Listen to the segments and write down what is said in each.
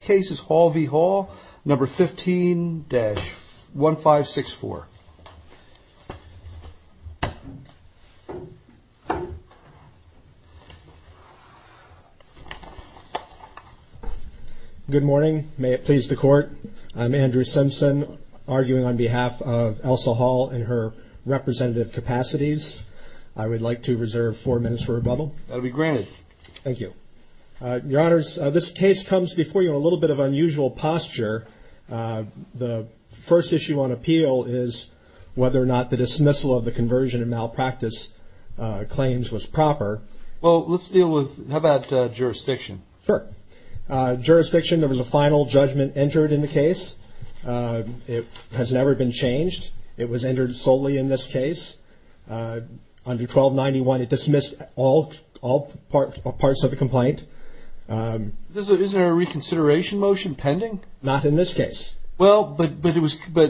case is Hall v. Hall, number 15-1564. Good morning, may it please the court. I'm Andrew Simpson, arguing on behalf of Elsa Hall in her representative capacities. I would like to reserve four minutes for rebuttal. That'll be granted. Thank you. Your honors, this case comes before you in a little bit of unusual posture. The first issue on appeal is whether or not the dismissal of the conversion and malpractice claims was proper. Well, let's deal with how about jurisdiction. Sure. Jurisdiction. There was a final judgment entered in the case. It has never been changed. It was entered in all parts of the complaint. Is there a reconsideration motion pending? Not in this case. Well, but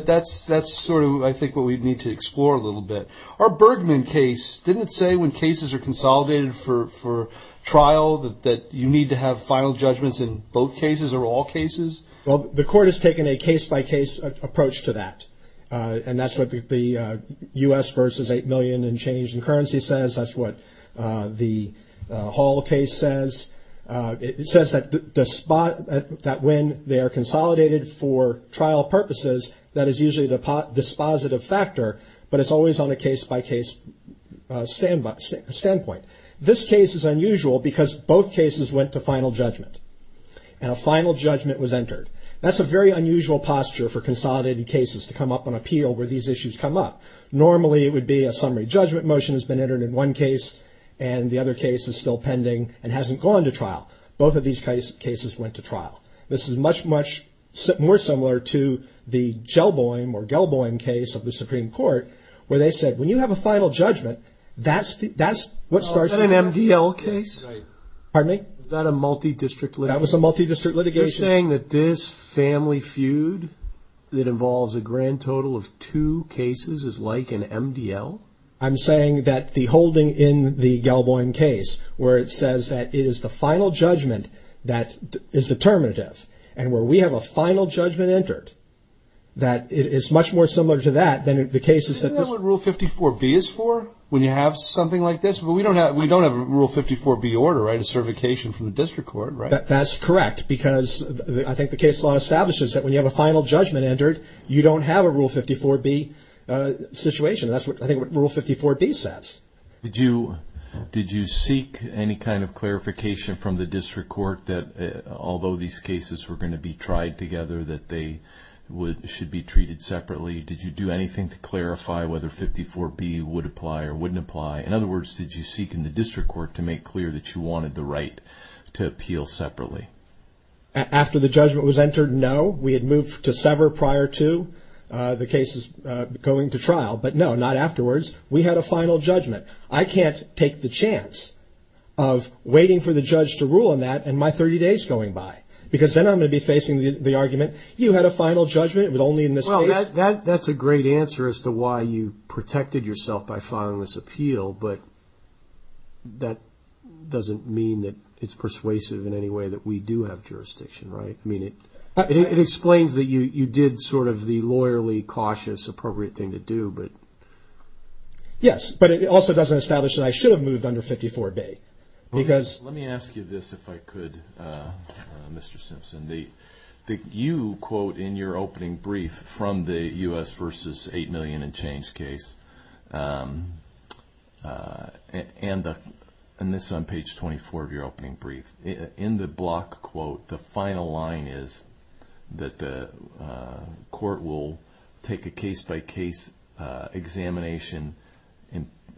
that's sort of I think what we'd need to explore a little bit. Our Bergman case, didn't it say when cases are consolidated for trial that you need to have final judgments in both cases or all cases? Well, the court has taken a case-by-case approach to that. And that's what the U.S. versus 8 million in change in currency says. That's what the Hall case says. It says that when they are consolidated for trial purposes, that is usually the dispositive factor, but it's always on a case-by-case standpoint. This case is unusual because both cases went to final judgment and a final judgment was entered. That's a very unusual posture for consolidated cases to come up on appeal where these issues come up. Normally, it would be a summary judgment motion has been entered in one case and the other case is still pending and hasn't gone to trial. Both of these cases went to trial. This is much, much more similar to the Gelboim or Gelboim case of the Supreme Court where they said, when you have a final judgment, that's what it starts with. Is that an MDL case? Pardon me? Is that a multidistrict litigation? That was a multidistrict litigation. You're saying that this family feud that involves a grand total of two cases is like an MDL? I'm saying that the holding in the Gelboim case where it says that it is the final judgment that is determinative and where we have a final judgment entered, that it is much more similar to that than the cases that... Isn't that what Rule 54B is for when you have something like this? We don't have a Rule 54B order, right? A certification from the district court, right? That's correct because I think the case law establishes that when you have a final judgment entered, you don't have a Rule 54B situation. I think that's what Rule 54B says. Did you seek any kind of clarification from the district court that although these cases were going to be tried together, that they should be treated separately? Did you do anything to clarify whether 54B would apply or wouldn't apply? In other words, did you seek in the district court to make clear that you wanted the right to appeal separately? After the judgment was entered, no. We had moved to sever prior to the cases going to trial, but no, not afterwards. We had a final judgment. I can't take the chance of waiting for the judge to rule on that and my 30 days going by because then I'm going to be facing the argument, you had a final judgment, it was only in this case... Well, that's a great answer as to why you protected yourself by filing this appeal, but that doesn't mean that it's persuasive in any way that we do have jurisdiction, right? I mean, it explains that you did sort of the lawyerly, cautious, appropriate thing to do, but... Yes, but it also doesn't establish that I should have moved under 54B because... Let me ask you this, if I could, Mr. Simpson. You quote in your opening brief from the U.S. versus $8 million and change case, and this is on page 24 of your opening brief, in the block quote, the final line is that the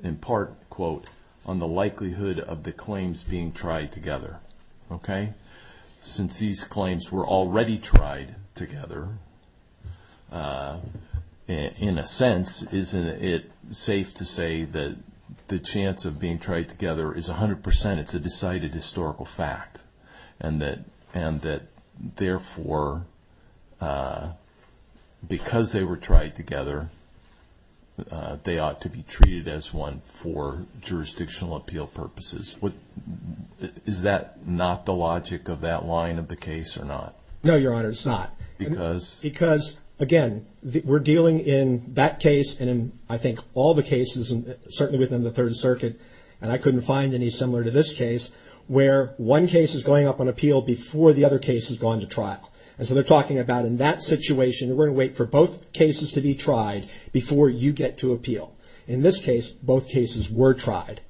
in part quote, on the likelihood of the claims being tried together, okay? Since these claims were already tried together, in a sense, isn't it safe to say that the chance of being tried together is 100% it's a decided historical fact and that therefore because they were tried together, they ought to be treated as one for jurisdictional appeal purposes? Is that not the logic of that line of the case or not? No, Your Honor, it's not. Because? Because, again, we're dealing in that case and I think all the cases, certainly within the Third Circuit, and I couldn't find any similar to this case, where one case is going up on appeal before the other case has gone to trial. And so they're talking about in that situation, we're going to wait for both cases to be tried before you get to appeal. In this case, both cases were tried.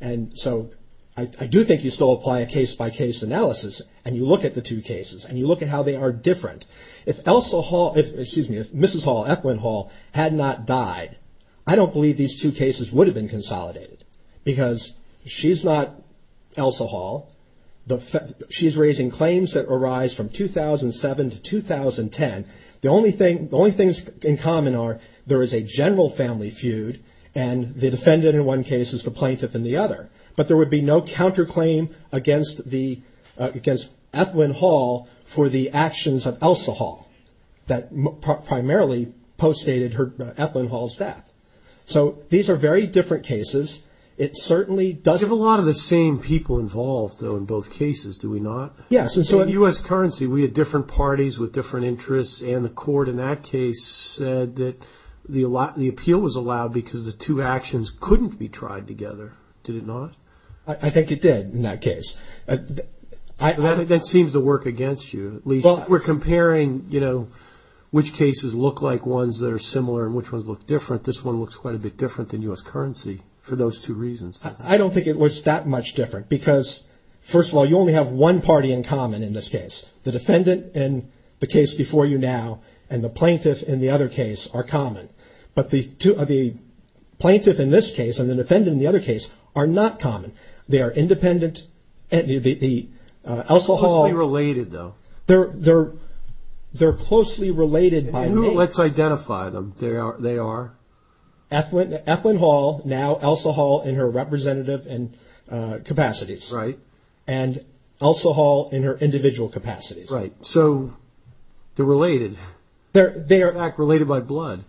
And so I do think you still apply a case-by-case analysis and you look at the two cases and you look at how they are different. If Mrs. Hall, Ethlyn Hall, had not died, I don't believe these two cases would have been consolidated. Because she's not Elsa Hall. She's raising claims that arise from 2007 to 2010. The only things in common are there is a general family feud and the defendant in one case is the plaintiff in the other. But there would be no counterclaim against Ethlyn Hall for the actions of Elsa Hall that primarily postdated Ethlyn Hall's death. So these are very different cases. It certainly does... You have a lot of the same people involved, though, in both cases, do we not? Yes. In U.S. currency, we had different parties with different interests and the court in that case said that the appeal was allowed because the two actions couldn't be tried together, did it not? I think it did in that case. That seems to work against you. If we're comparing which cases look like ones that are similar and which ones look different, this one looks quite a bit different than U.S. currency for those two reasons. I don't think it was that much different because, first of all, you only have one party in common in this case. The defendant in the case before you now and the plaintiff in the other case are common. But the plaintiff in this case and the defendant in the other case are not common. They are independent. Elsa Hall... They're closely related, though. Let's identify them. They are? Ethlyn Hall, now Elsa Hall in her representative capacities. Right. And Elsa Hall in her individual capacities. Right. So they're related. In fact, related by blood.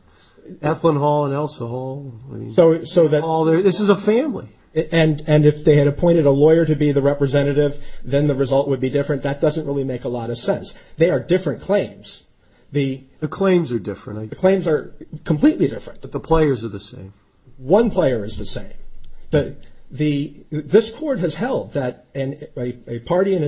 Ethlyn Hall and Elsa Hall. This is a family. And if they had appointed a lawyer to be the representative, then the result would be different. That doesn't really make a lot of sense. They are different claims. The claims are completely different. But the players are the same. One player is the same. This court has held that a party in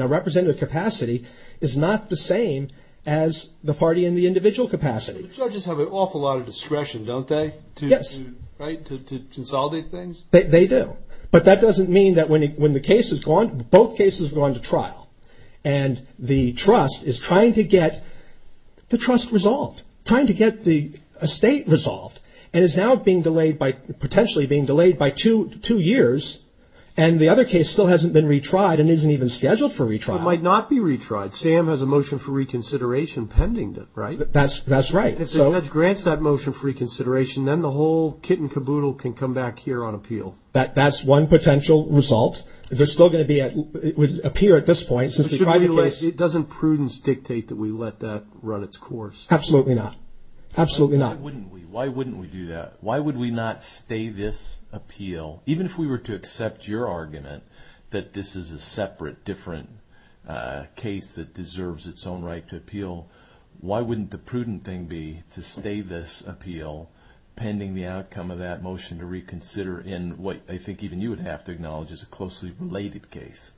a representative capacity is not the same as the party in the individual capacity. Judges have an awful lot of discretion, don't they? To consolidate things? They do. But that doesn't mean that when the case is gone, both cases have gone to trial. And the trust is trying to get the trust resolved. Trying to get the estate resolved. And is now being delayed by... Potentially being delayed by two years. And the other case still hasn't been retried and isn't even scheduled for retrial. It might not be retried. Sam has a motion for reconsideration pending, right? That's right. If the judge grants that motion for reconsideration, then the whole kit and caboodle can come back here on appeal. That's one potential result. There's still going to be... It would appear at this point... Doesn't prudence dictate that we let that run its course? Absolutely not. Why wouldn't we do that? Why would we not stay this appeal? Even if we were to accept your argument that this is a separate, different case that deserves its own right to appeal, why wouldn't the prudent thing be to stay this appeal pending the outcome of that motion to reconsider in what I think even you would have to acknowledge is a closely related case?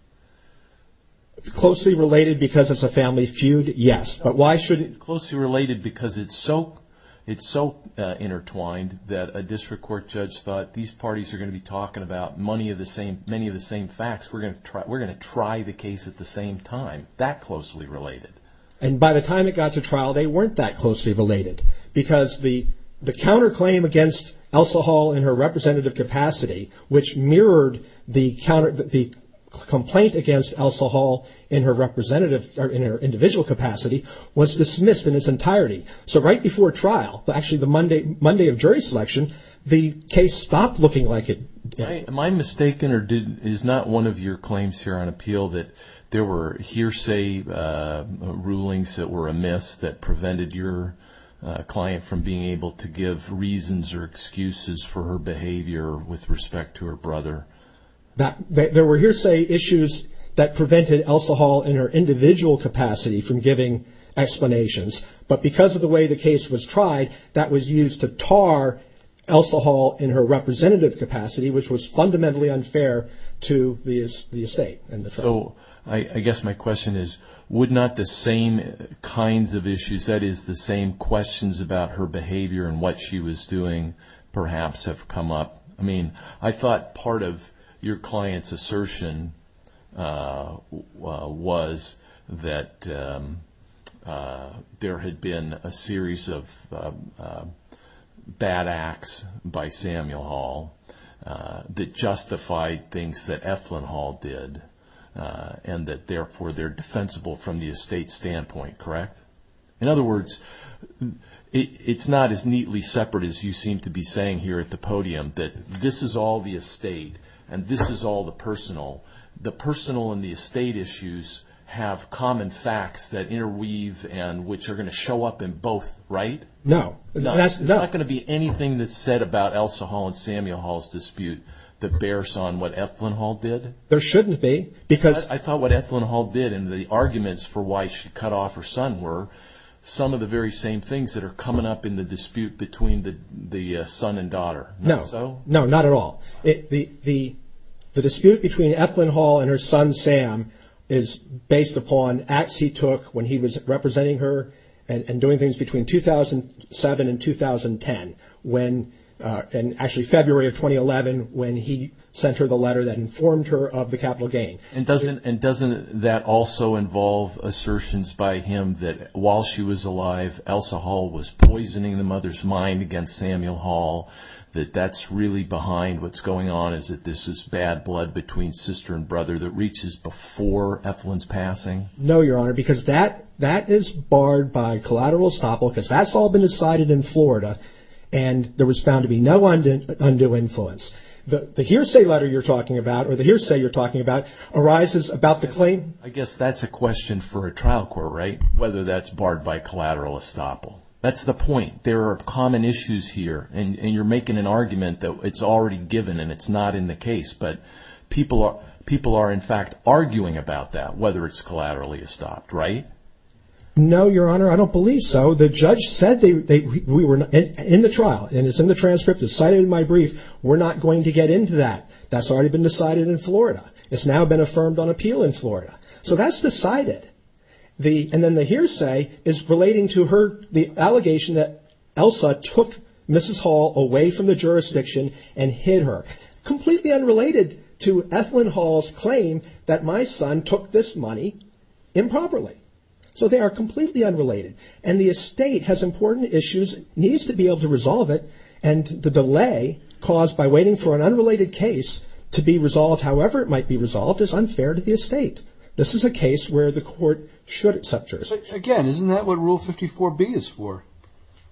Closely related because it's a family feud? Yes. Closely related because it's so intertwined that a district court judge thought, these parties are going to be talking about many of the same facts. We're going to try the case at the same time. That closely related. And by the time it got to trial, they weren't that closely related. Because the counterclaim against Elsa Hall in her representative capacity, which mirrored the complaint against Elsa Hall in her individual capacity, was dismissed in its entirety. So right before trial, actually the Monday of jury selection, the case stopped looking like it did. Am I mistaken or is not one of your claims here on appeal that there were hearsay rulings that were amiss that prevented your client from being able to give reasons or excuses for her behavior with respect to her brother? There were hearsay issues that prevented Elsa Hall in her individual capacity from giving explanations. But because of the way the case was tried, that was used to tar Elsa Hall in her representative capacity, which was fundamentally unfair to the estate. So I guess my question is, would not the same kinds of issues, that is, the same questions about her behavior and what she was doing perhaps have come up? I mean, I thought part of your client's assertion was that there had been a series of bad acts by Samuel Hall that justified things that Eflin Hall did, and that therefore they're defensible from the estate standpoint, correct? In other words, it's not as neatly separate as you seem to be saying here at the podium, that this is all the estate and this is all the personal. The personal and the estate issues have common facts that interweave and which are going to show up in both, right? No. There's not going to be anything that's said about Elsa Hall and Samuel Hall's dispute that bears on what Eflin Hall did? There shouldn't be. I thought what Eflin Hall did and the arguments for why she cut off her son were some of the very same things that are coming up in the dispute between the son and daughter. No, not at all. The dispute between Eflin Hall and her son Sam is based upon acts he took when he was representing her and doing things between 2007 and 2010, and actually February of 2011 when he sent her the letter that informed her of the capital gain. And doesn't that also involve assertions by him that while she was alive, Elsa Hall was poisoning the mother's mind against Samuel Hall, that that's really behind what's going on, is that this is bad blood between sister and brother that reaches before Eflin's passing? No, Your Honor, because that is barred by collateral estopel, because that's all been decided in Florida and there was found to be no undue influence. The hearsay letter you're talking about or the hearsay you're talking about arises about the claim... I guess that's a question for a trial court, right, whether that's barred by collateral estopel. That's the point. There are common issues here and you're making an argument that it's already given and it's not in the case, but people are in fact arguing about that, whether it's collaterally estopped, right? No, Your Honor, I don't believe so. The judge said in the trial, and it's in the transcript, it's cited in my brief, we're not going to get into that. That's already been decided in Florida. It's now been affirmed on appeal in Florida. So that's decided. And then the hearsay is relating to the allegation that Elsa took Mrs. Hall away from the jurisdiction and hid her. Completely unrelated to Ethlyn Hall's claim that my son took this money improperly. So they are completely unrelated and the estate has important issues, needs to be able to resolve it, and the delay caused by waiting for an unrelated case to be resolved, however it might be resolved, is unfair to the estate. This is a case where the court should accept jurisdiction. Again, isn't that what Rule 54B is for?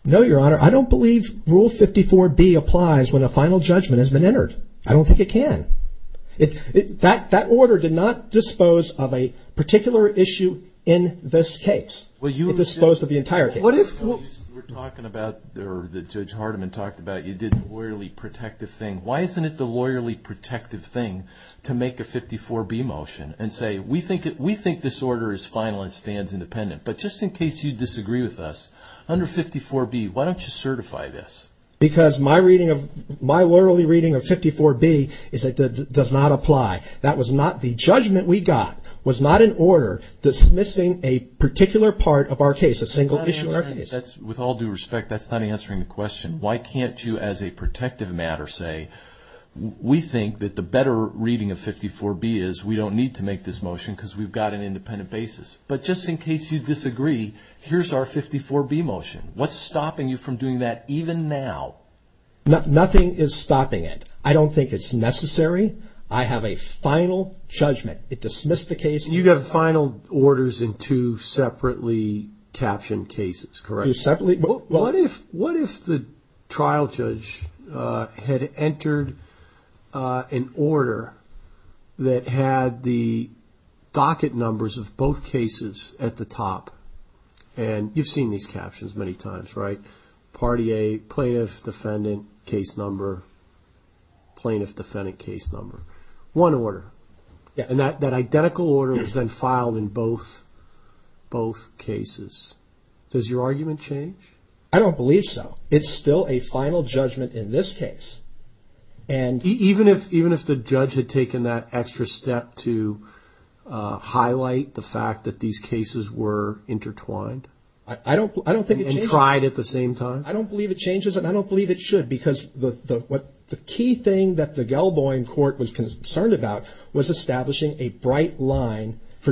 No, Your Honor, I don't believe Rule 54B applies when a final judgment has been entered. I don't think it can. That order did not dispose of a particular issue in this case. It disposed of the entire case. Why isn't it the lawyerly protective thing to make a 54B motion and say, we think this order is final and stands independent, but just in case you disagree with us, under 54B, why don't you certify this? Because my lawyerly reading of 54B is that it does not apply. That was not the judgment we got. It was not an order dismissing a particular part of our case, a single issue in our case. With all due respect, that's not answering the question. Why can't you, as a protective matter, say, we think that the better reading of 54B is we don't need to make this motion because we've got an independent basis, but just in case you disagree, here's our 54B motion. What's stopping you from doing that even now? Nothing is stopping it. I don't think it's necessary. I have a final judgment. It dismissed the case. You have final orders in two separately captioned cases, correct? What if the trial judge had entered an order that had the docket numbers of both cases at the top? And you've seen these captions many times, right? Part A, plaintiff, defendant, case number, plaintiff, defendant, case number. One order. And that identical order is then filed in both cases. Does your argument change? I don't believe so. It's still a final judgment in this case. Even if the judge had taken that extra step to highlight the fact that these cases were intertwined? I don't think it changes. And tried at the same time? I don't believe it changes, and I don't believe it should, because the key thing that the Gelboim court was concerned about was establishing a And that's what the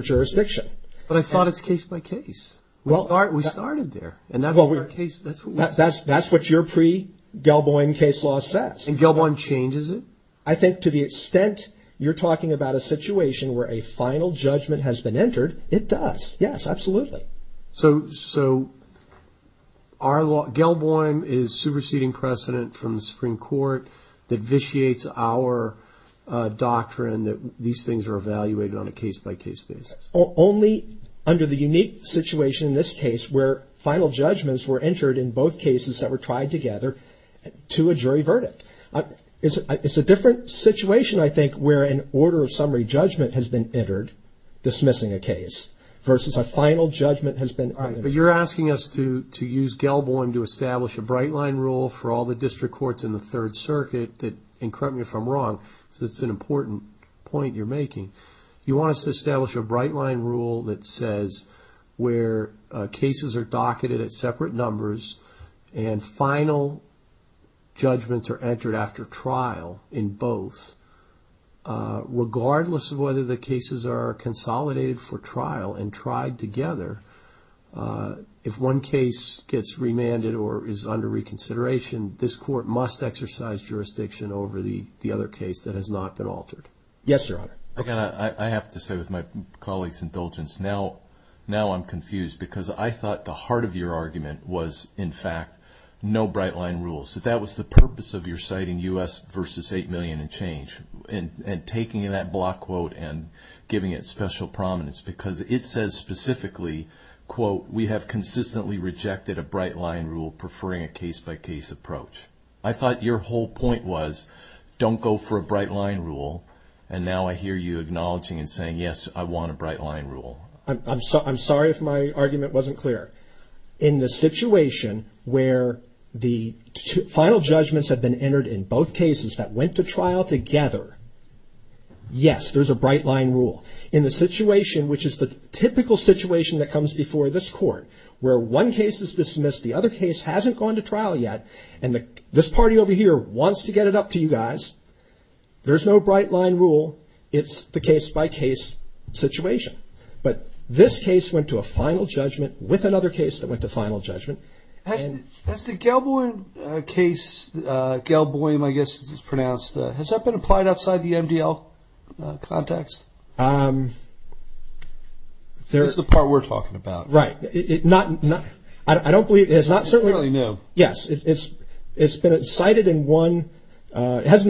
Gelboim case law says. And Gelboim changes it? I think to the extent you're talking about a situation where a final judgment has been entered, it does. Yes, absolutely. So our law, Gelboim is superseding precedent from the Supreme Court that vitiates our doctrine that these things are evaluated on a case-by-case basis? Only under the unique situation in this case where final judgments were entered in both cases that were tried together to a jury verdict. It's a different situation, I think, where an order of summary judgment has been entered dismissing a case versus a final judgment has been entered. But you're asking us to use Gelboim to establish a bright line rule for all the district courts in the Third Circuit that, and correct me if I'm wrong, because it's an important point you're making. You want us to establish a bright line rule that says where cases are docketed at separate numbers and final judgments are entered after trial in both, regardless of whether the cases are consolidated for trial. And tried together, if one case gets remanded or is under reconsideration, this court must exercise jurisdiction over the other case that has not been altered. Yes, Your Honor. Again, I have to say with my colleagues' indulgence, now I'm confused because I thought the heart of your argument was, in fact, no bright line rule. So that was the purpose of your citing U.S. versus $8 million and change and taking that block quote and giving it special prominence. Because it says specifically, quote, we have consistently rejected a bright line rule preferring a case-by-case approach. I thought your whole point was don't go for a bright line rule. And now I hear you acknowledging and saying, yes, I want a bright line rule. I'm sorry if my argument wasn't clear. In the situation where the final judgments have been entered in both cases that went to trial together, yes, there's a bright line rule. In the situation, which is the typical situation that comes before this court, where one case is dismissed, the other case hasn't gone to trial yet, and this party over here wants to get it up to you guys, there's no bright line rule. It's the case-by-case situation. But this case went to a final judgment with another case that went to final judgment. Has the Galboym case, Galboym, I guess as it's pronounced, has that been applied outside the MDL context? That's the part we're talking about. Right. It hasn't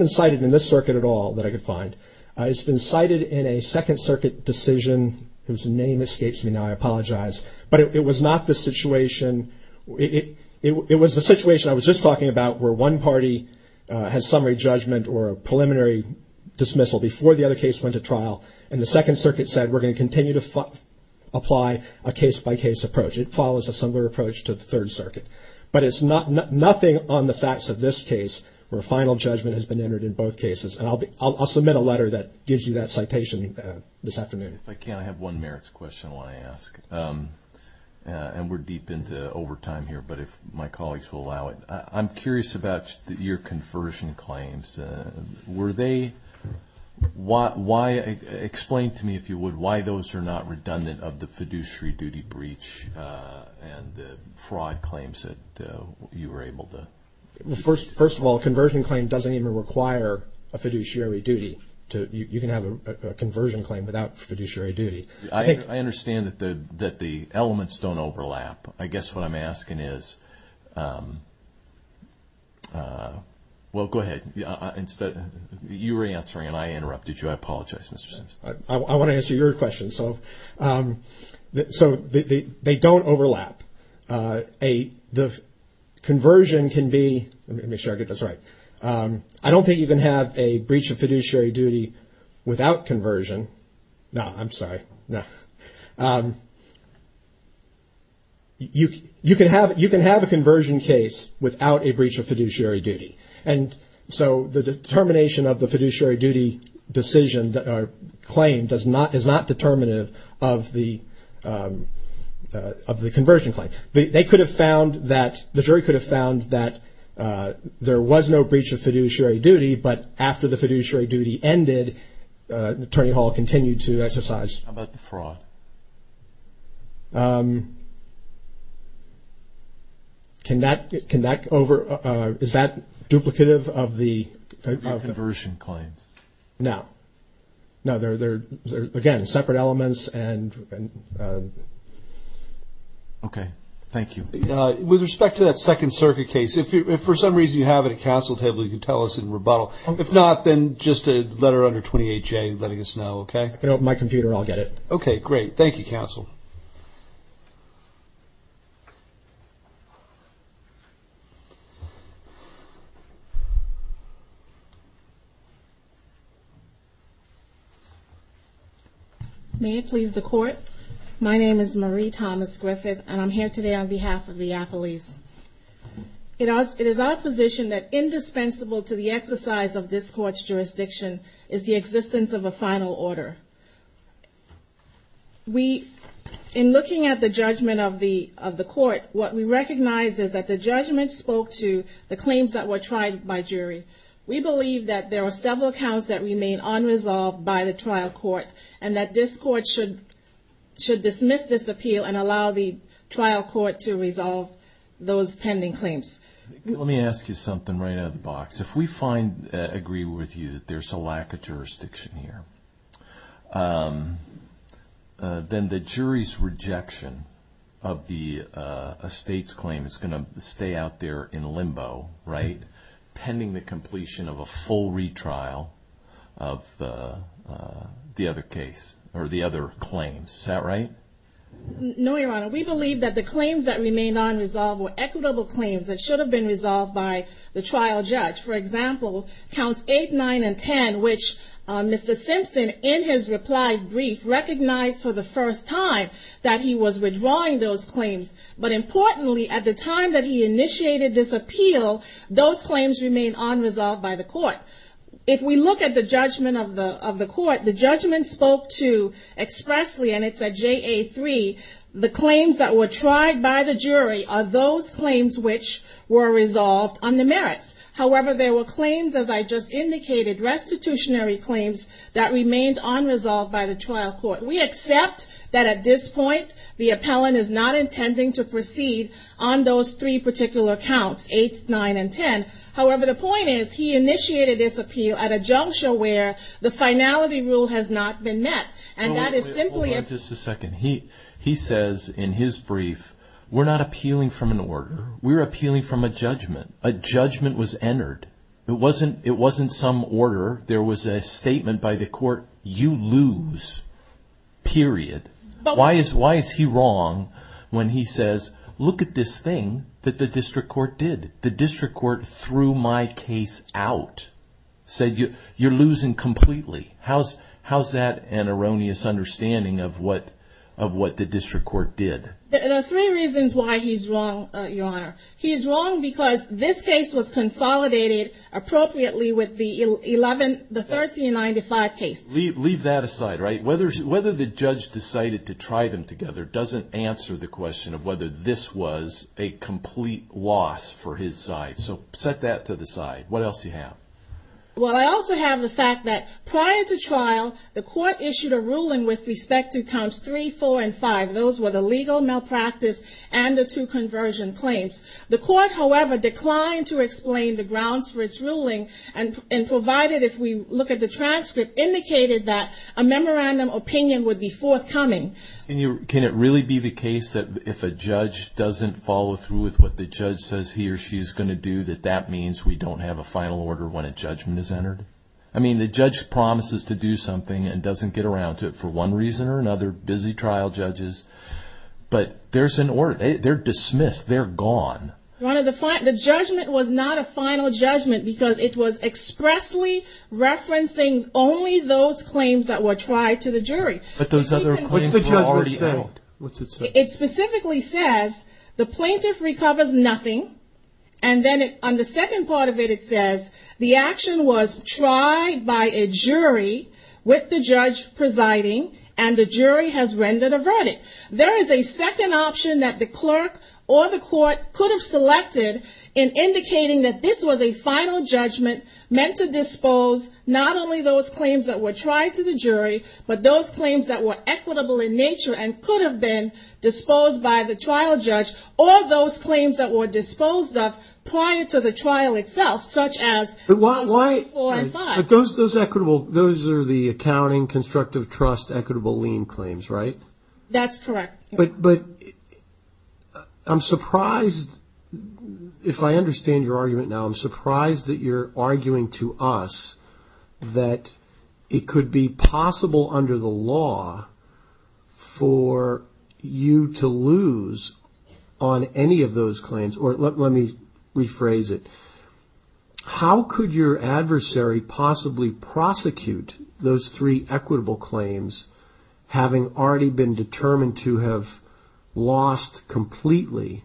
been cited in this circuit at all that I could find. It's been cited in a Second Circuit decision whose name escapes me now, I apologize, but it was the situation I was just talking about where one party has summary judgment or a preliminary dismissal before the other case went to trial, and the Second Circuit said we're going to continue to apply a case-by-case approach. It follows a similar approach to the Third Circuit. But it's nothing on the facts of this case where final judgment has been entered in both cases, and I'll submit a letter that gives you that citation this afternoon. If I can, I have one merits question I want to ask, and we're deep into overtime here, but if my colleagues will allow it. I'm curious about your conversion claims. Explain to me, if you would, why those are not redundant of the fiduciary duty breach and the fraud claims that you were able to... First of all, a conversion claim doesn't even require a fiduciary duty. You can have a conversion claim without fiduciary duty. I understand that the elements don't overlap. I guess what I'm asking is... Well, go ahead. You were answering and I interrupted you. I apologize, Mr. Simpson. I want to answer your question. They don't overlap. I don't think you can have a breach of fiduciary duty without conversion. No, I'm sorry. You can have a conversion case without a breach of fiduciary duty. And so the determination of the fiduciary duty claim is not determinative of the conversion claim. The jury could have found that there was no breach of fiduciary duty, but after the fiduciary duty ended, Attorney Hall continued to exercise... How about the fraud? Can that... Is that duplicative of the... No. Again, separate elements and... Okay, thank you. With respect to that Second Circuit case, if for some reason you have it at counsel table, you can tell us in rebuttal. If not, then just a letter under 28J letting us know, okay? I can open my computer and I'll get it. My name is Marie Thomas-Griffith, and I'm here today on behalf of the appellees. It is our position that indispensable to the exercise of this Court's jurisdiction is the existence of a final order. In looking at the judgment of the Court, what we recognize is that the judgment spoke to the claims that were tried by jury. We believe that there are several counts that remain unresolved by the trial court, and that this Court should dismiss this appeal and allow the trial court to resolve those pending claims. Let me ask you something right out of the box. If we agree with you that there's a lack of jurisdiction here, then the jury's rejection of a state's claim is going to stay out there in limbo, right? Pending the completion of a full retrial of the other case, or the other claims. Is that right? No, Your Honor. We believe that the claims that remained unresolved were equitable claims that should have been resolved by the trial judge. For example, Counts 8, 9, and 10, which Mr. Simpson, in his reply brief, recognized for the first time that he was redrawing those claims. But importantly, at the time that he initiated this appeal, those claims remained unresolved by the Court. If we look at the judgment of the Court, the judgment spoke to expressly, and it's at JA-3, the claims that were tried by the jury are those claims which were resolved under merits. However, there were claims, as I just indicated, restitutionary claims that remained unresolved by the trial court. We accept that at this point, the appellant is not intending to proceed on those three particular counts, 8, 9, and 10. However, the point is, he initiated this appeal at a juncture where the finality rule has not been met. Hold on just a second. He says in his brief, we're not appealing from an order, we're appealing from a judgment. A judgment was entered. It wasn't some order. There was a statement by the Court, you lose, period. Why is he wrong when he says, look at this thing that the District Court did. The District Court threw my case out, said you're losing completely. How's that an erroneous understanding of what the District Court did? There are three reasons why he's wrong, Your Honor. He's wrong because this case was consolidated appropriately with the 1395 case. Leave that aside. Whether the judge decided to try them together doesn't answer the question of whether this was a complete loss for his side. Set that to the side. What else do you have? Well, I also have the fact that prior to trial, the Court issued a ruling with respect to counts 3, 4, and 5. Those were the legal malpractice and the two conversion claims. The Court, however, declined to explain the grounds for its ruling and provided, if we look at the transcript, indicated that a memorandum opinion would be forthcoming. Can it really be the case that if a judge doesn't follow through with what the judge says he or she is going to do, that that means we don't have a final order when a judgment is entered? I mean, the judge promises to do something and doesn't get around to it for one reason or another. Busy trial judges. But they're dismissed. They're gone. The judgment was not a final judgment because it was expressly referencing only those claims that were tried to the jury. What's the judgment say? It specifically says the plaintiff recovers nothing and then on the second part of it it says the action was tried by a jury with the judge presiding and the jury has rendered a verdict. There is a second option that the clerk or the court could have selected in indicating that this was a final judgment meant to dispose not only those claims that were tried to the jury, but those claims that were equitable in nature and could have been disposed by the trial judge or those claims that were disposed of prior to the trial itself, such as 3, 4, and 5. Those are the accounting, constructive trust, equitable lien claims, right? That's correct. But I'm surprised, if I understand your argument now, I'm surprised that you're arguing to us that it could be possible under the law for you to lose on any of those claims. Or let me rephrase it. How could your adversary possibly prosecute those three equitable claims having already been determined to have lost completely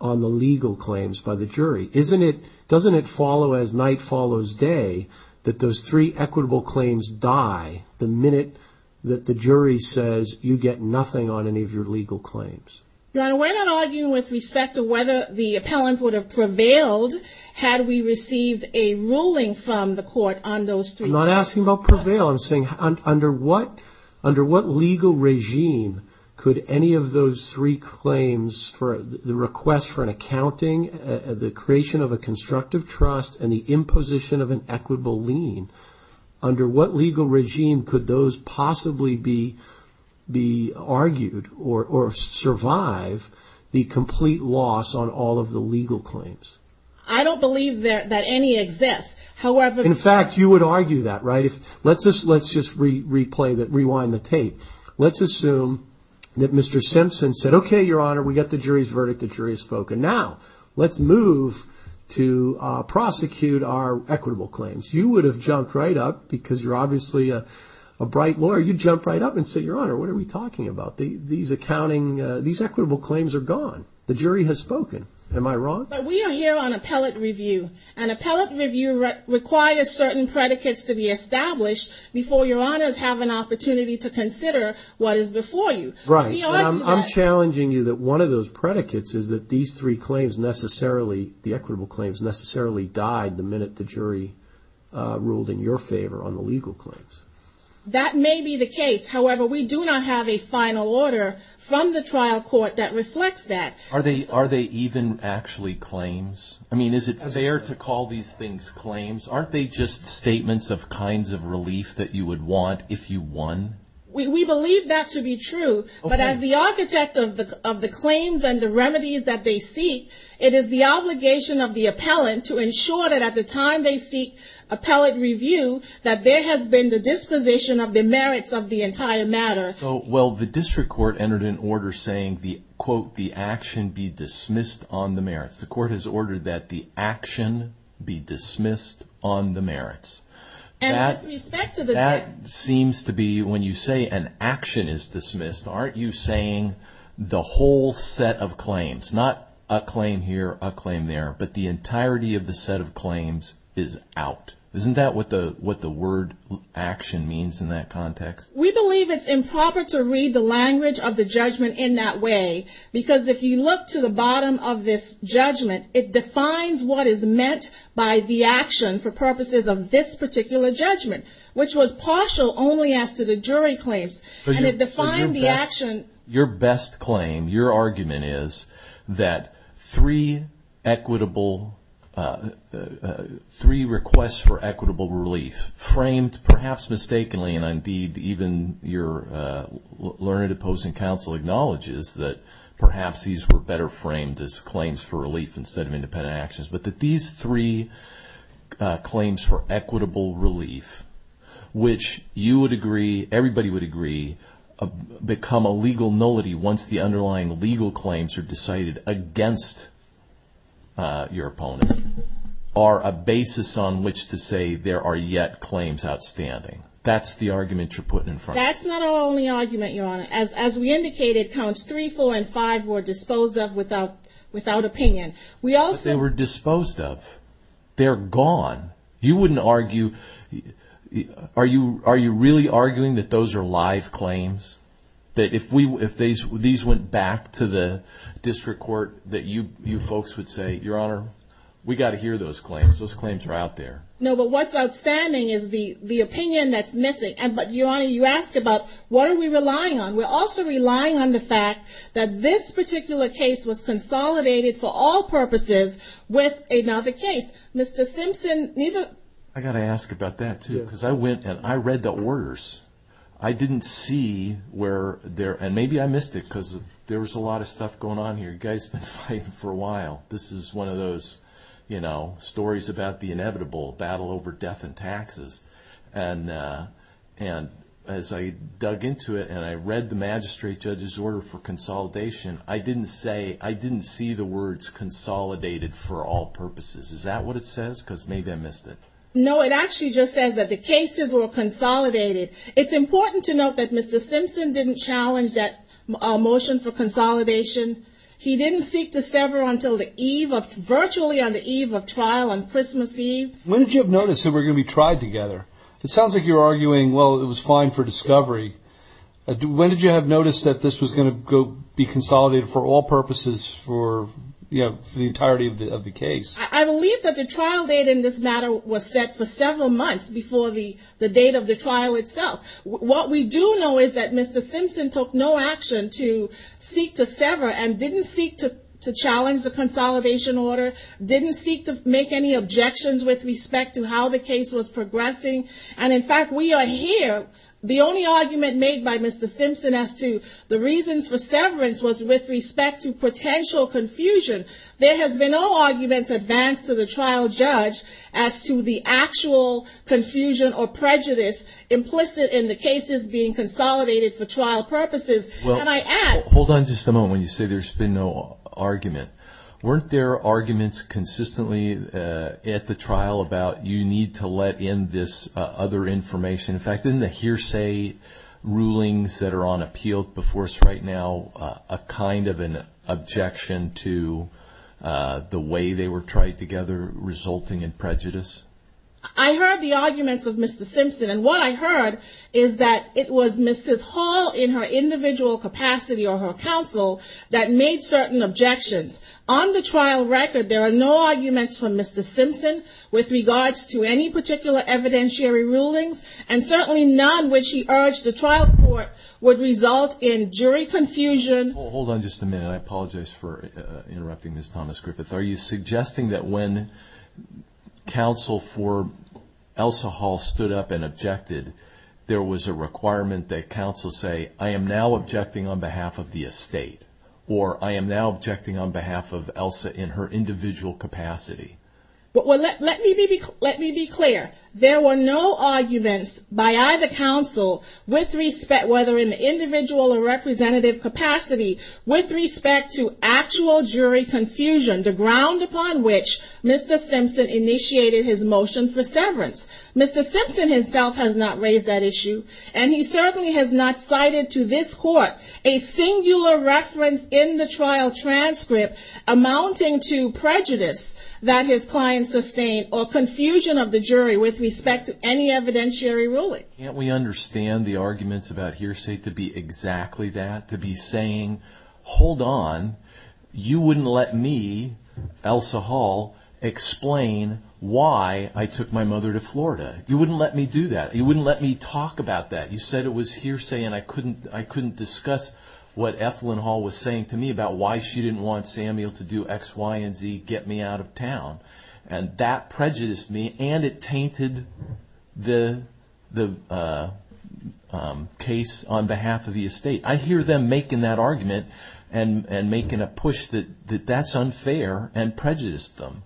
on the legal claims by the jury? Doesn't it follow as night follows day that those three equitable claims die the minute that the jury says you get nothing on any of your legal claims? Your Honor, we're not arguing with respect to whether the appellant would have prevailed had we received a ruling from the court on those three claims. I'm not asking about prevail. I'm saying under what legal regime could any of those three claims, the request for an accounting, the creation of a constructive trust, and the imposition of an equitable lien, under what legal regime could those possibly be argued or survive the complete loss on all of the legal claims? I don't believe that any exists. In fact, you would argue that, right? Let's just rewind the tape. Let's assume that Mr. Simpson said, okay, Your Honor, we got the jury's verdict, the jury has spoken. Now, let's move to prosecute our equitable claims. You would have jumped right up because you're obviously a bright lawyer. You'd jump right up and say, Your Honor, what are we talking about? These equitable claims are gone. The jury has spoken. Am I wrong? But we are here on appellate review, and appellate review requires certain predicates to be established before Your Honors have an opportunity to consider what is before you. Right. I'm challenging you that one of those predicates is that these three claims necessarily, the equitable claims necessarily died the minute the jury ruled in your favor on the legal claims. That may be the case. However, we do not have a final order from the trial court that reflects that. Are they even actually claims? I mean, is it fair to call these things claims? Aren't they just statements of kinds of relief that you would want if you won? We believe that to be true, but as the architect of the claims and the remedies that they seek, it is the obligation of the appellant to ensure that at the time they seek appellate review that there has been the disposition of the merits of the entire matter. Well, the district court entered an order saying, quote, the action be dismissed on the merits. The court has ordered that the action be dismissed on the merits. That seems to be when you say an action is dismissed, aren't you saying the whole set of claims, not a claim here, a claim there, but the entirety of the set of claims is out. Isn't that what the word action means in that context? We believe it's improper to read the language of the judgment in that way, because if you look to the bottom of this judgment, it defines what is meant by the action for purposes of this particular judgment, which was partial only as to the jury claims, and it defined the action. Your best claim, your argument is that three requests for equitable relief, framed perhaps mistakenly, and indeed even your learned opposing counsel acknowledges that perhaps these were better framed as claims for relief instead of independent actions, but that these three claims for equitable relief, which you would agree, everybody would agree, become a legal nullity once the underlying legal claims are decided against your opponent, are a basis on which to say there are yet claims outstanding. That's the argument you're putting in front of me. That's not our only argument, Your Honor. As we indicated, counts three, four, and five were disposed of without opinion. But they were disposed of. They're gone. Are you really arguing that those are live claims? If these went back to the district court, that you folks would say, Your Honor, we got to hear those claims. Those claims are out there. No, but what's outstanding is the opinion that's missing. But, Your Honor, you ask about what are we relying on? We're also relying on the fact that this particular case was consolidated for all purposes with another case. Mr. Simpson, neither... I got to ask about that, too, because I went and I read the orders. And maybe I missed it because there was a lot of stuff going on here. You guys have been fighting for a while. This is one of those stories about the inevitable battle over death and taxes. And as I dug into it and I read the magistrate judge's order for consolidation, I didn't see the words consolidated for all purposes. Is that what it says? Because maybe I missed it. No, it actually just says that the cases were consolidated. It's important to note that Mr. Simpson didn't challenge that motion for consolidation. He didn't seek to sever until virtually on the eve of trial on Christmas Eve. When did you notice that we're going to be tried together? It sounds like you're arguing, well, it was fine for discovery. When did you have noticed that this was going to be consolidated for all purposes for the entirety of the case? I believe that the trial date in this matter was set for several months before the date of the trial itself. What we do know is that Mr. Simpson took no action to seek to sever and didn't seek to challenge the consolidation order, didn't seek to make any objections with respect to how the case was progressing. And in fact, we are here. The only argument made by Mr. Simpson as to the reasons for severance was with respect to potential confusion. There has been no arguments advanced to the trial judge as to the actual confusion or prejudice implicit in the cases being consolidated for trial purposes. Hold on just a moment when you say there's been no argument. Weren't there arguments consistently at the trial about you need to let in this other information? In fact, in the hearsay rulings that are on appeal before us right now, a kind of an objection to the way they were tried together resulting in prejudice? I heard the arguments of Mr. Simpson and what I heard is that it was Mrs. Hall in her individual capacity or her counsel that made certain objections. On the trial record, there are no arguments from Mr. Simpson with regards to any particular evidentiary rulings and certainly none which he urged the trial court would result in jury confusion. Hold on just a minute. I apologize for interrupting Ms. Thomas-Griffith. Are you suggesting that when counsel for Elsa Hall stood up and objected, there was a requirement that counsel say, I am now objecting on behalf of the estate or I am now objecting on behalf of Elsa in her individual capacity? Well, let me be clear. There were no arguments by either counsel with respect whether in individual or representative capacity with respect to actual jury confusion, the ground upon which Mr. Simpson initiated his motion for severance. Mr. Simpson himself has not raised that issue and he certainly has not cited to this court a singular reference in the trial transcript amounting to prejudice that his client sustained or confusion of the jury with respect to any evidentiary ruling. Can't we understand the arguments about hearsay to be exactly that, to be saying, hold on, you wouldn't let me, Elsa Hall, explain why I took my mother to Florida. You wouldn't let me do that. You wouldn't let me talk about that. You said it was hearsay and I couldn't discuss what Ethlyn Hall was saying to me about why she didn't want Samuel to do X, Y, and Z, get me out of town. And that prejudiced me and it tainted the case on behalf of the estate. I hear them making that argument and making a push that that's unfair and prejudiced them.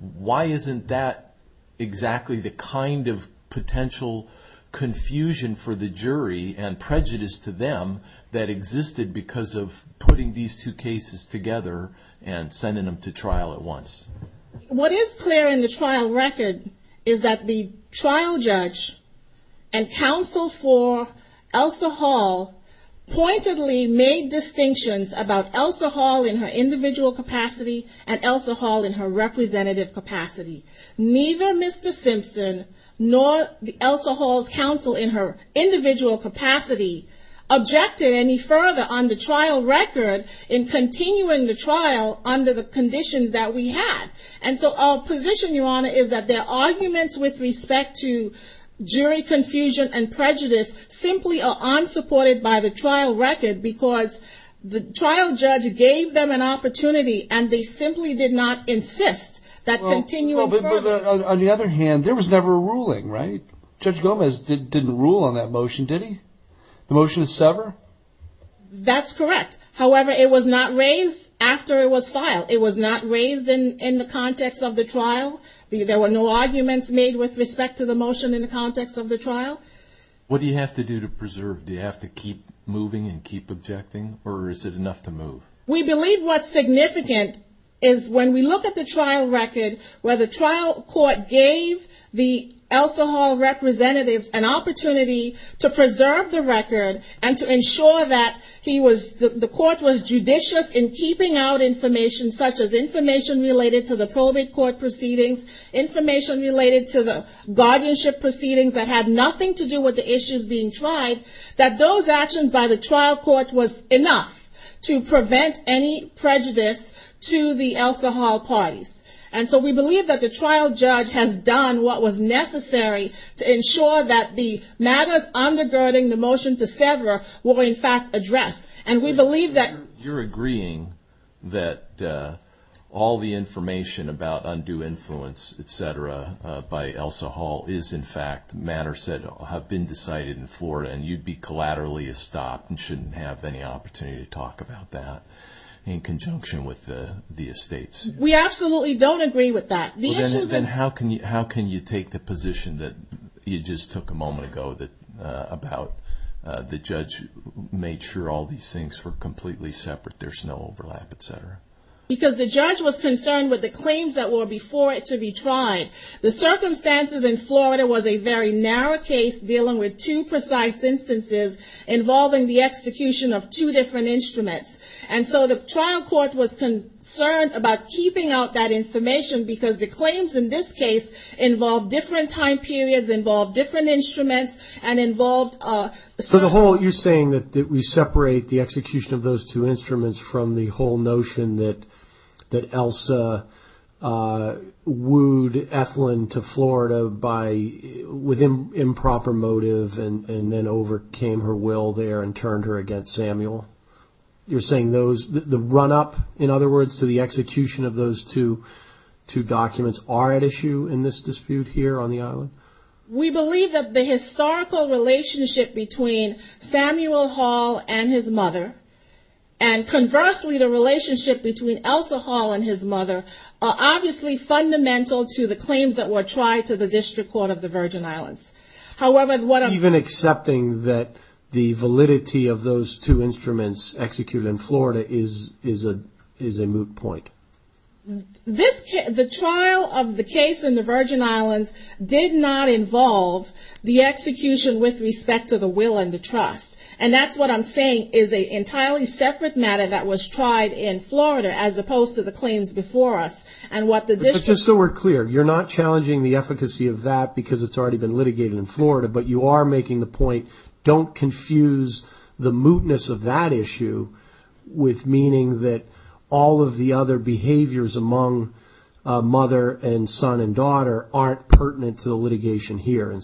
Why isn't that exactly the kind of potential confusion for the jury and prejudice to them that existed because of putting these two cases together and sending them to trial at once? What is clear in the trial record is that the trial judge and counsel for Elsa Hall pointedly made distinctions about Elsa Hall in her individual capacity and Elsa Hall in her representative capacity. Neither Mr. Simpson nor Elsa Hall's counsel in her individual capacity objected any further on the trial record in continuing the trial under the conditions that we had. And so our position, Your Honor, is that their arguments with respect to jury confusion and prejudice simply are unsupported by the trial record because the trial judge gave them an opportunity and they simply did not insist that continuing further. On the other hand, there was never a ruling, right? Judge Gomez didn't rule on that motion, did he? The motion is severed? That's correct. However, it was not raised after it was filed. It was not raised in the context of the trial. There were no arguments made with respect to the motion in the context of the trial. What do you have to do to preserve? Do you have to keep moving and keep objecting or is it enough to move? We believe what's significant is when we look at the trial record where the trial court gave the Elsa Hall representatives an opportunity to preserve the record and to ensure that the court was judicious in keeping out information such as information related to the probate court proceedings, information related to the guardianship proceedings that had nothing to do with the issues being tried, that those actions by the trial court was enough to prevent any prejudice to the Elsa Hall parties. And so we believe that the trial judge has done what was necessary to ensure that the matters undergirding the motion to sever were in fact addressed. You're agreeing that all the information about undue influence, et cetera, by Elsa Hall is in fact matters that have been decided in Florida and you'd be collaterally stopped and shouldn't have any opportunity to talk about that in conjunction with the estates? We absolutely don't agree with that. Then how can you take the position that you just took a moment ago about the judge made sure all these things were completely separate, there's no overlap, et cetera? Because the judge was concerned with the claims that were before it to be tried. The circumstances in Florida was a very narrow case dealing with two precise instances involving the execution of two different instruments. And so the trial court was concerned about keeping out that information because the claims in this case involved different time periods, involved different instruments and involved... So the whole, you're saying that we separate the execution of those two instruments from the whole notion that Elsa wooed Ethlin to Florida with improper motive and then overcame her will there and turned her against Samuel? You're saying the run-up, in other words, to the execution of those two documents are at issue in this dispute here on the island? We believe that the historical relationship between Samuel Hall and his mother, and conversely the relationship between Elsa Hall and his mother, are obviously fundamental to the claims that were tried to the district court of the Virgin Islands. Even accepting that the validity of those two instruments executed in Florida is a moot point? The trial of the case in the Virgin Islands did not involve the execution with respect to the will and the trust. And that's what I'm saying is an entirely separate matter that was tried in Florida as opposed to the claims in Florida. And what the district... But just so we're clear, you're not challenging the efficacy of that because it's already been litigated in Florida, but you are making the point, don't confuse the mootness of that issue with meaning that all of the other behaviors among mother and son and daughter aren't pertinent to the litigation here.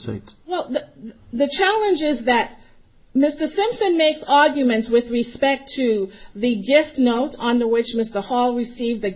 Well, the challenge is that Mr. Simpson makes arguments with respect to the gift note on which Mr. Hall received the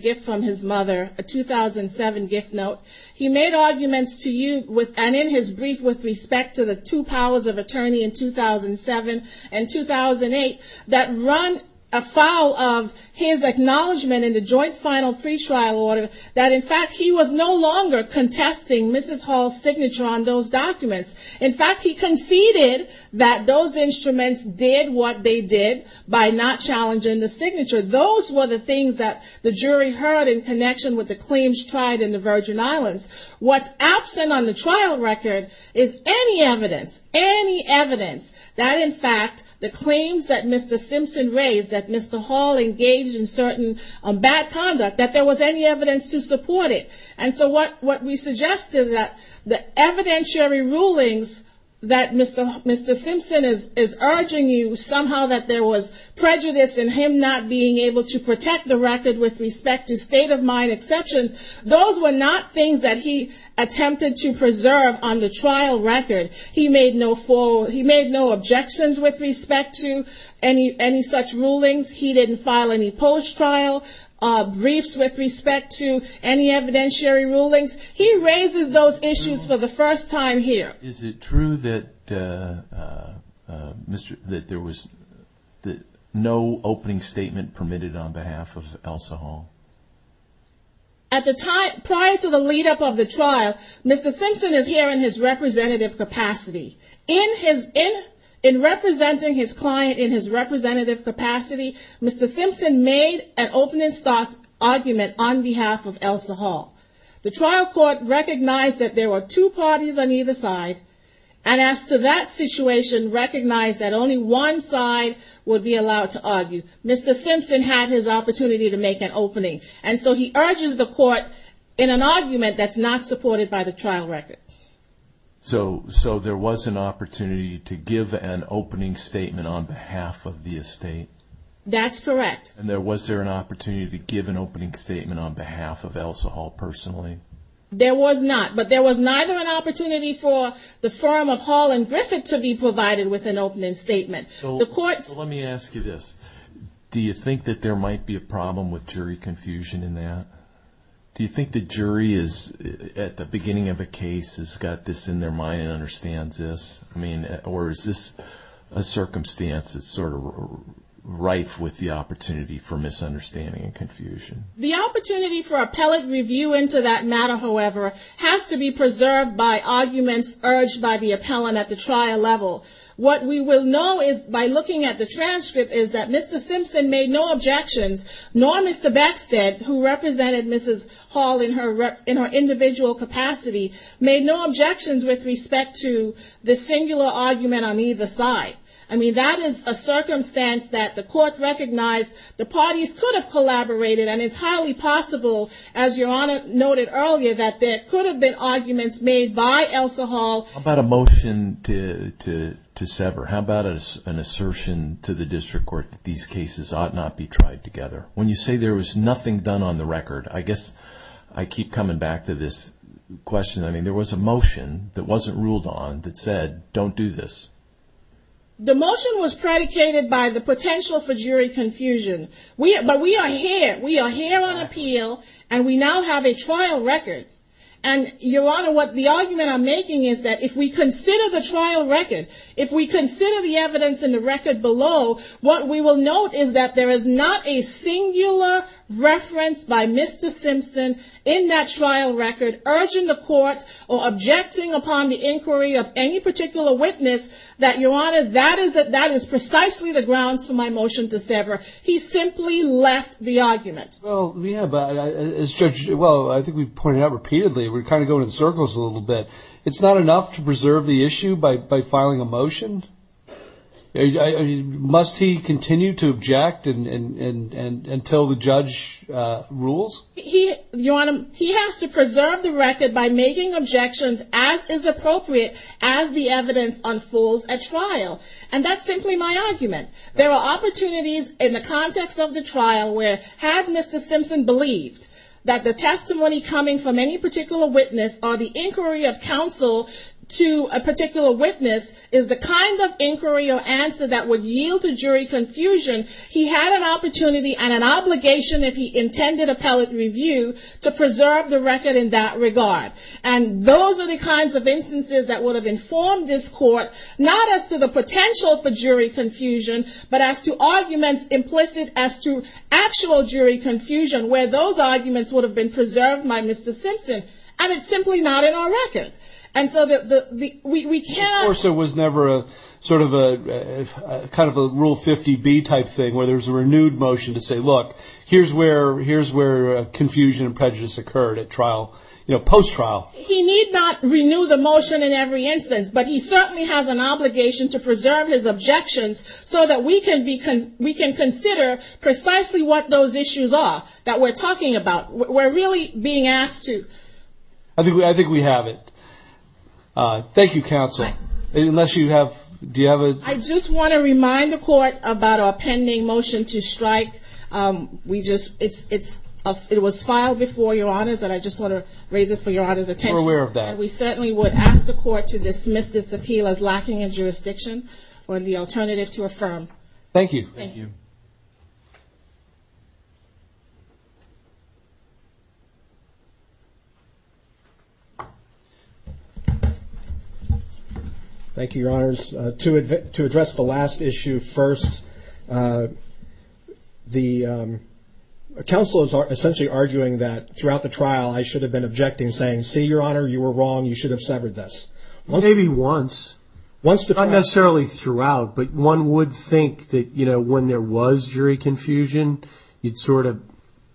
gift note. He made arguments to you and in his brief with respect to the two powers of attorney in 2007 and 2008 that run afoul of his acknowledgement in the joint final pre-trial order that in fact he was no longer contesting Mrs. Hall's signature on those documents. In fact, he conceded that those instruments did what they did by not challenging the signature. Those were the things that the jury heard in connection with the claims tried in the Virgin Islands. What's absent on the trial record is any evidence, any evidence, that in fact the claims that Mr. Simpson raised, that Mr. Hall engaged in certain bad conduct, that there was any evidence to support it. And so what we suggest is that the evidentiary rulings that Mr. Simpson is urging you somehow that there was prejudice in him not being able to support it. That he was not being able to protect the record with respect to state of mind exceptions. Those were not things that he attempted to preserve on the trial record. He made no objections with respect to any such rulings. He didn't file any post-trial briefs with respect to any evidentiary rulings. He raises those issues for the first time here. Is it true that there was no opening statement permitted on behalf of Elsa Hall? At the time, prior to the lead up of the trial, Mr. Simpson is here in his representative capacity. In representing his client in his representative capacity, Mr. Simpson made an opening argument on behalf of Elsa Hall. The trial court recognized that there were two parties on either side, and as to that situation, recognized that only one side would be allowed to argue. Mr. Simpson had his opportunity to make an opening, and so he urges the court in an argument that's not supported by the trial record. So there was an opportunity to give an opening statement on behalf of the estate? That's correct. And was there an opportunity to give an opening statement on behalf of Elsa Hall personally? There was not, but there was neither an opportunity for the firm of Hall and Griffith to be provided with an opening statement. So let me ask you this, do you think that there might be a problem with jury confusion in that? Do you think the jury is, at the beginning of a case, has got this in their mind and understands this? I mean, or is this a circumstance that's sort of rife with the opportunity for misunderstanding and confusion? The opportunity for appellate review into that matter, however, has to be preserved by arguments urged by the appellant at the trial level. What we will know is, by looking at the transcript, is that Mr. Simpson made no objections, nor Mr. Beckstead, who represented Mrs. Hall in her individual capacity, made no objections with respect to the singular argument on either side. I mean, that is a circumstance that the court recognized the parties could have collaborated, and it's highly possible, as Your Honor noted earlier, that there could have been arguments made by Elsa Hall. How about a motion to sever? How about an assertion to the district court that these cases ought not be tried together? When you say there was nothing done on the record, I guess I keep coming back to this question. I mean, there was a motion that wasn't ruled on that said, don't do this. The motion was predicated by the potential for jury confusion, but we are here. We are here on appeal, and we now have a trial record, and Your Honor, what the argument I'm making is that if we consider the trial record, if we consider the evidence in the record below, what we will note is that there is not a singular reference by Mr. Simpson in that trial record urging the court or objecting upon the inquiry of any particular witness that, Your Honor, that is precisely the grounds for my motion to sever. He simply left the argument. Well, we have, as Judge, well, I think we've pointed out repeatedly, we're kind of going in circles a little bit. It's not enough to preserve the issue by filing a motion? Must he continue to object until the judge rules? He, Your Honor, he has to preserve the record by making objections as is appropriate as the evidence unfolds at trial, and that's simply my argument. There are opportunities in the context of the trial where, had Mr. Simpson believed that the testimony coming from any particular witness or the inquiry of counsel to a particular witness is the kind of inquiry or answer that would yield to jury confusion, he had an opportunity and an obligation, if he intended appellate review, to preserve the record in that regard. And those are the kinds of instances that would have informed this court, not as to the potential for jury confusion, but as to the potential for jury confusion. But as to arguments implicit as to actual jury confusion, where those arguments would have been preserved by Mr. Simpson, and it's simply not in our record. And so we cannot... Of course, there was never a sort of a, kind of a Rule 50B type thing where there was a renewed motion to say, look, here's where confusion and prejudice occurred at trial, you know, post-trial. He need not renew the motion in every instance, but he certainly has an obligation to preserve his objections so that we can continue to pursue the case. And so we can consider precisely what those issues are that we're talking about. We're really being asked to... I think we have it. Thank you, counsel. I just want to remind the court about our pending motion to strike. It was filed before your honors, and I just want to raise it for your honors' attention. And we certainly would ask the court to dismiss this appeal as lacking in jurisdiction or the alternative to affirm. Thank you. Thank you, your honors. To address the last issue first, the counsel is essentially arguing that throughout the trial, I should have been objecting, saying, see your honor, you were wrong, you should have severed this. Maybe once. Not necessarily throughout, but one would think that, you know, when there was jury confusion, you'd sort of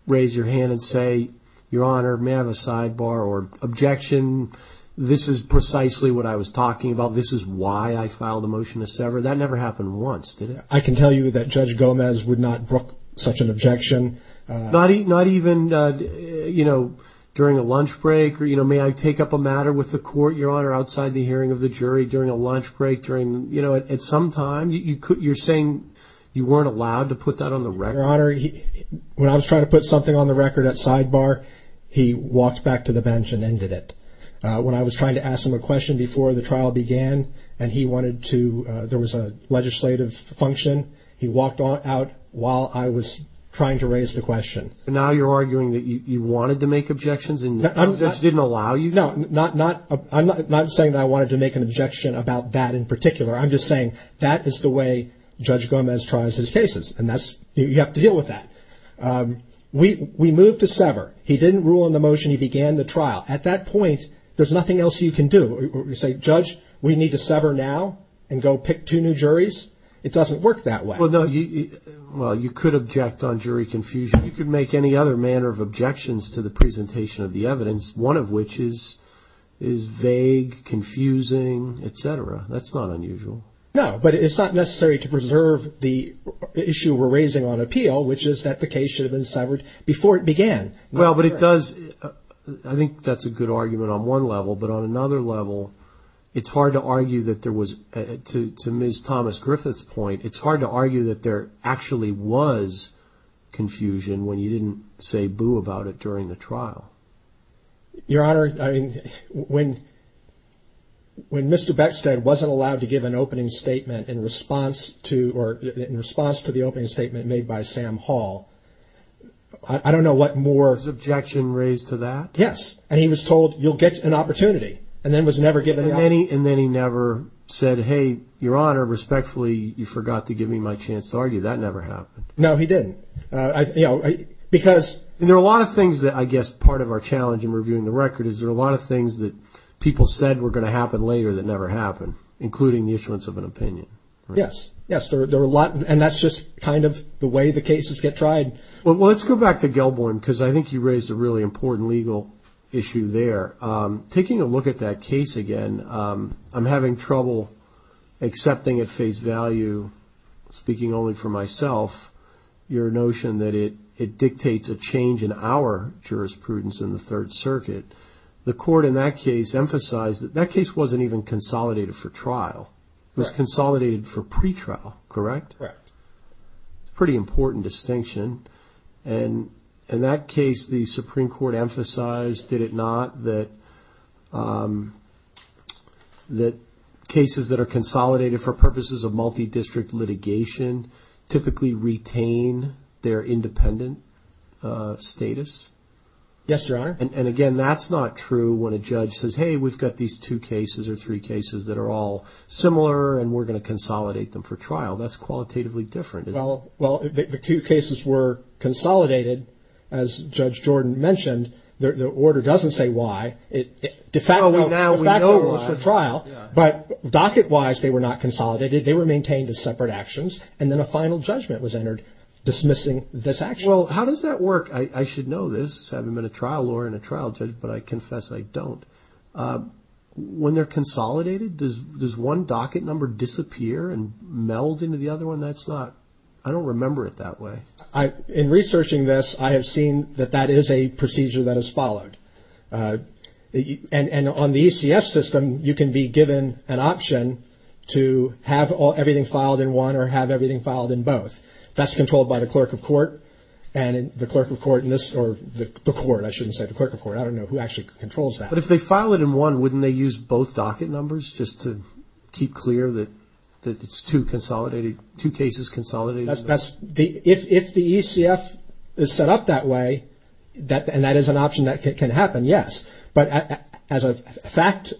raise your hand and say, your honor, may I have a sidebar or objection? This is precisely what I was talking about. This is why I filed a motion to sever. That never happened once, did it? I can tell you that Judge Gomez would not brook such an objection. Not even, you know, during a lunch break, or, you know, may I take up a matter with the court, your honor, outside the hearing of the jury during a lunch break, during, you know, at some time? You're saying you weren't allowed to put that on the record? Your honor, when I was trying to put something on the record at sidebar, he walked back to the bench and ended it. When I was trying to ask him a question before the trial began, and he wanted to, there was a legislative function, he walked out while I was trying to raise my hand. He didn't raise the question. Now you're arguing that you wanted to make objections and the judge didn't allow you? No, I'm not saying that I wanted to make an objection about that in particular. I'm just saying that is the way Judge Gomez tries his cases, and that's, you have to deal with that. We moved to sever. He didn't rule on the motion, he began the trial. At that point, there's nothing else you can do. You say, Judge, we need to sever now and go pick two new juries? It doesn't work that way. Well, you could object on jury confusion. You could make any other manner of objections to the presentation of the evidence, one of which is vague, confusing, etc. That's not unusual. No, but it's not necessary to preserve the issue we're raising on appeal, which is that the case should have been severed before it began. Well, but it does, I think that's a good argument on one level, but on another level, it's hard to argue that there was, to Ms. Thomas Griffith's point, it's hard to argue that there actually was confusion when you didn't say boo about it during the trial. Your Honor, I mean, when Mr. Beckstead wasn't allowed to give an opening statement in response to the opening statement made by Sam Hall, I don't know what more he could have done. Was his objection raised to that? Yes, and he was told, you'll get an opportunity, and then was never given an opportunity. And then he never said, hey, Your Honor, respectfully, you forgot to give me my chance to argue. That never happened. No, he didn't. And there are a lot of things that, I guess, part of our challenge in reviewing the record is there are a lot of things that people said were going to happen later that never happened, including the issuance of an opinion. Yes, yes, there are a lot, and that's just kind of the way the cases get tried. Well, let's go back to Gelborn, because I think you raised a really important legal issue there. Taking a look at that case again, I'm having trouble accepting at face value, speaking only for myself, your notion that it dictates a change in our jurisprudence in the Third Circuit. The court in that case emphasized that that case wasn't even consolidated for trial. It was consolidated for pretrial, correct? Correct. Pretty important distinction. And in that case, the Supreme Court emphasized, did it not, that cases that are consolidated for purposes of multi-district litigation typically retain their independent status? Yes, Your Honor. And again, that's not true when a judge says, hey, we've got these two cases or three cases that are all similar, and we're going to consolidate them for trial. That's qualitatively different. Well, the two cases were consolidated, as Judge Jordan mentioned. The order doesn't say why. Now we know it was for trial, but docket-wise, they were not consolidated. They were maintained as separate actions, and then a final judgment was entered dismissing this action. I'm not a trial judge, but I confess I don't. When they're consolidated, does one docket number disappear and meld into the other one? I don't remember it that way. In researching this, I have seen that that is a procedure that is followed. And on the ECF system, you can be given an option to have everything filed in one or have everything filed in both. That's controlled by the clerk of court. But if they file it in one, wouldn't they use both docket numbers just to keep clear that it's two cases consolidated? If the ECF is set up that way, and that is an option that can happen, yes. But as the fact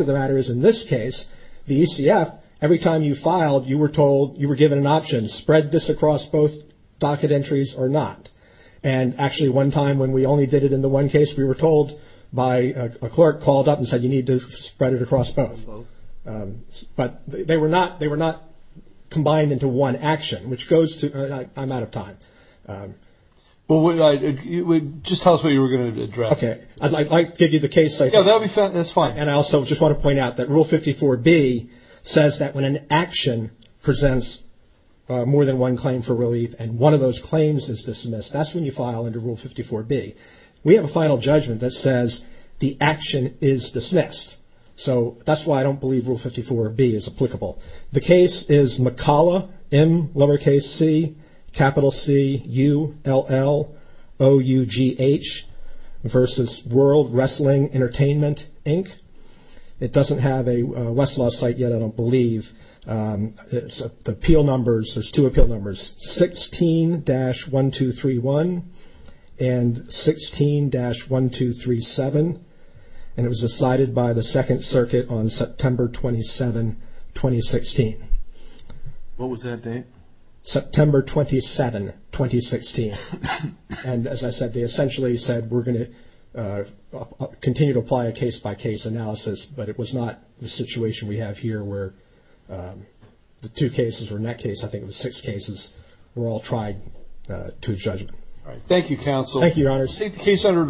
of the matter is, in this case, the ECF, every time you filed, you were given an option. Spread this across both docket entries or not. And actually, one time when we only did it in the one case, we were told by a clerk called up and said you need to spread it across both. But they were not combined into one action, which goes to – I'm out of time. Well, just tell us what you were going to address. Okay, I'll give you the case. And I also just want to point out that Rule 54B says that when an action presents more than one claim for relief and one of those claims is dismissed, that's when you file under Rule 54B. We have a final judgment that says the action is dismissed. So that's why I don't believe Rule 54B is applicable. The case is McCalla, M lowercase c, capital C, U-L-L-O-U-G-H versus World Wrestling Entertainment Association. It doesn't have a Westlaw site yet, I don't believe. The appeal numbers, there's two appeal numbers, 16-1231 and 16-1237. And it was decided by the Second Circuit on September 27, 2016. What was that date? September 27, 2016. And as I said, they essentially said we're going to continue to apply a case-by-case analysis, but it was not the situation we have here where the two cases, or in that case, I think it was six cases, were all tried to a judgment. Thank you, counsel.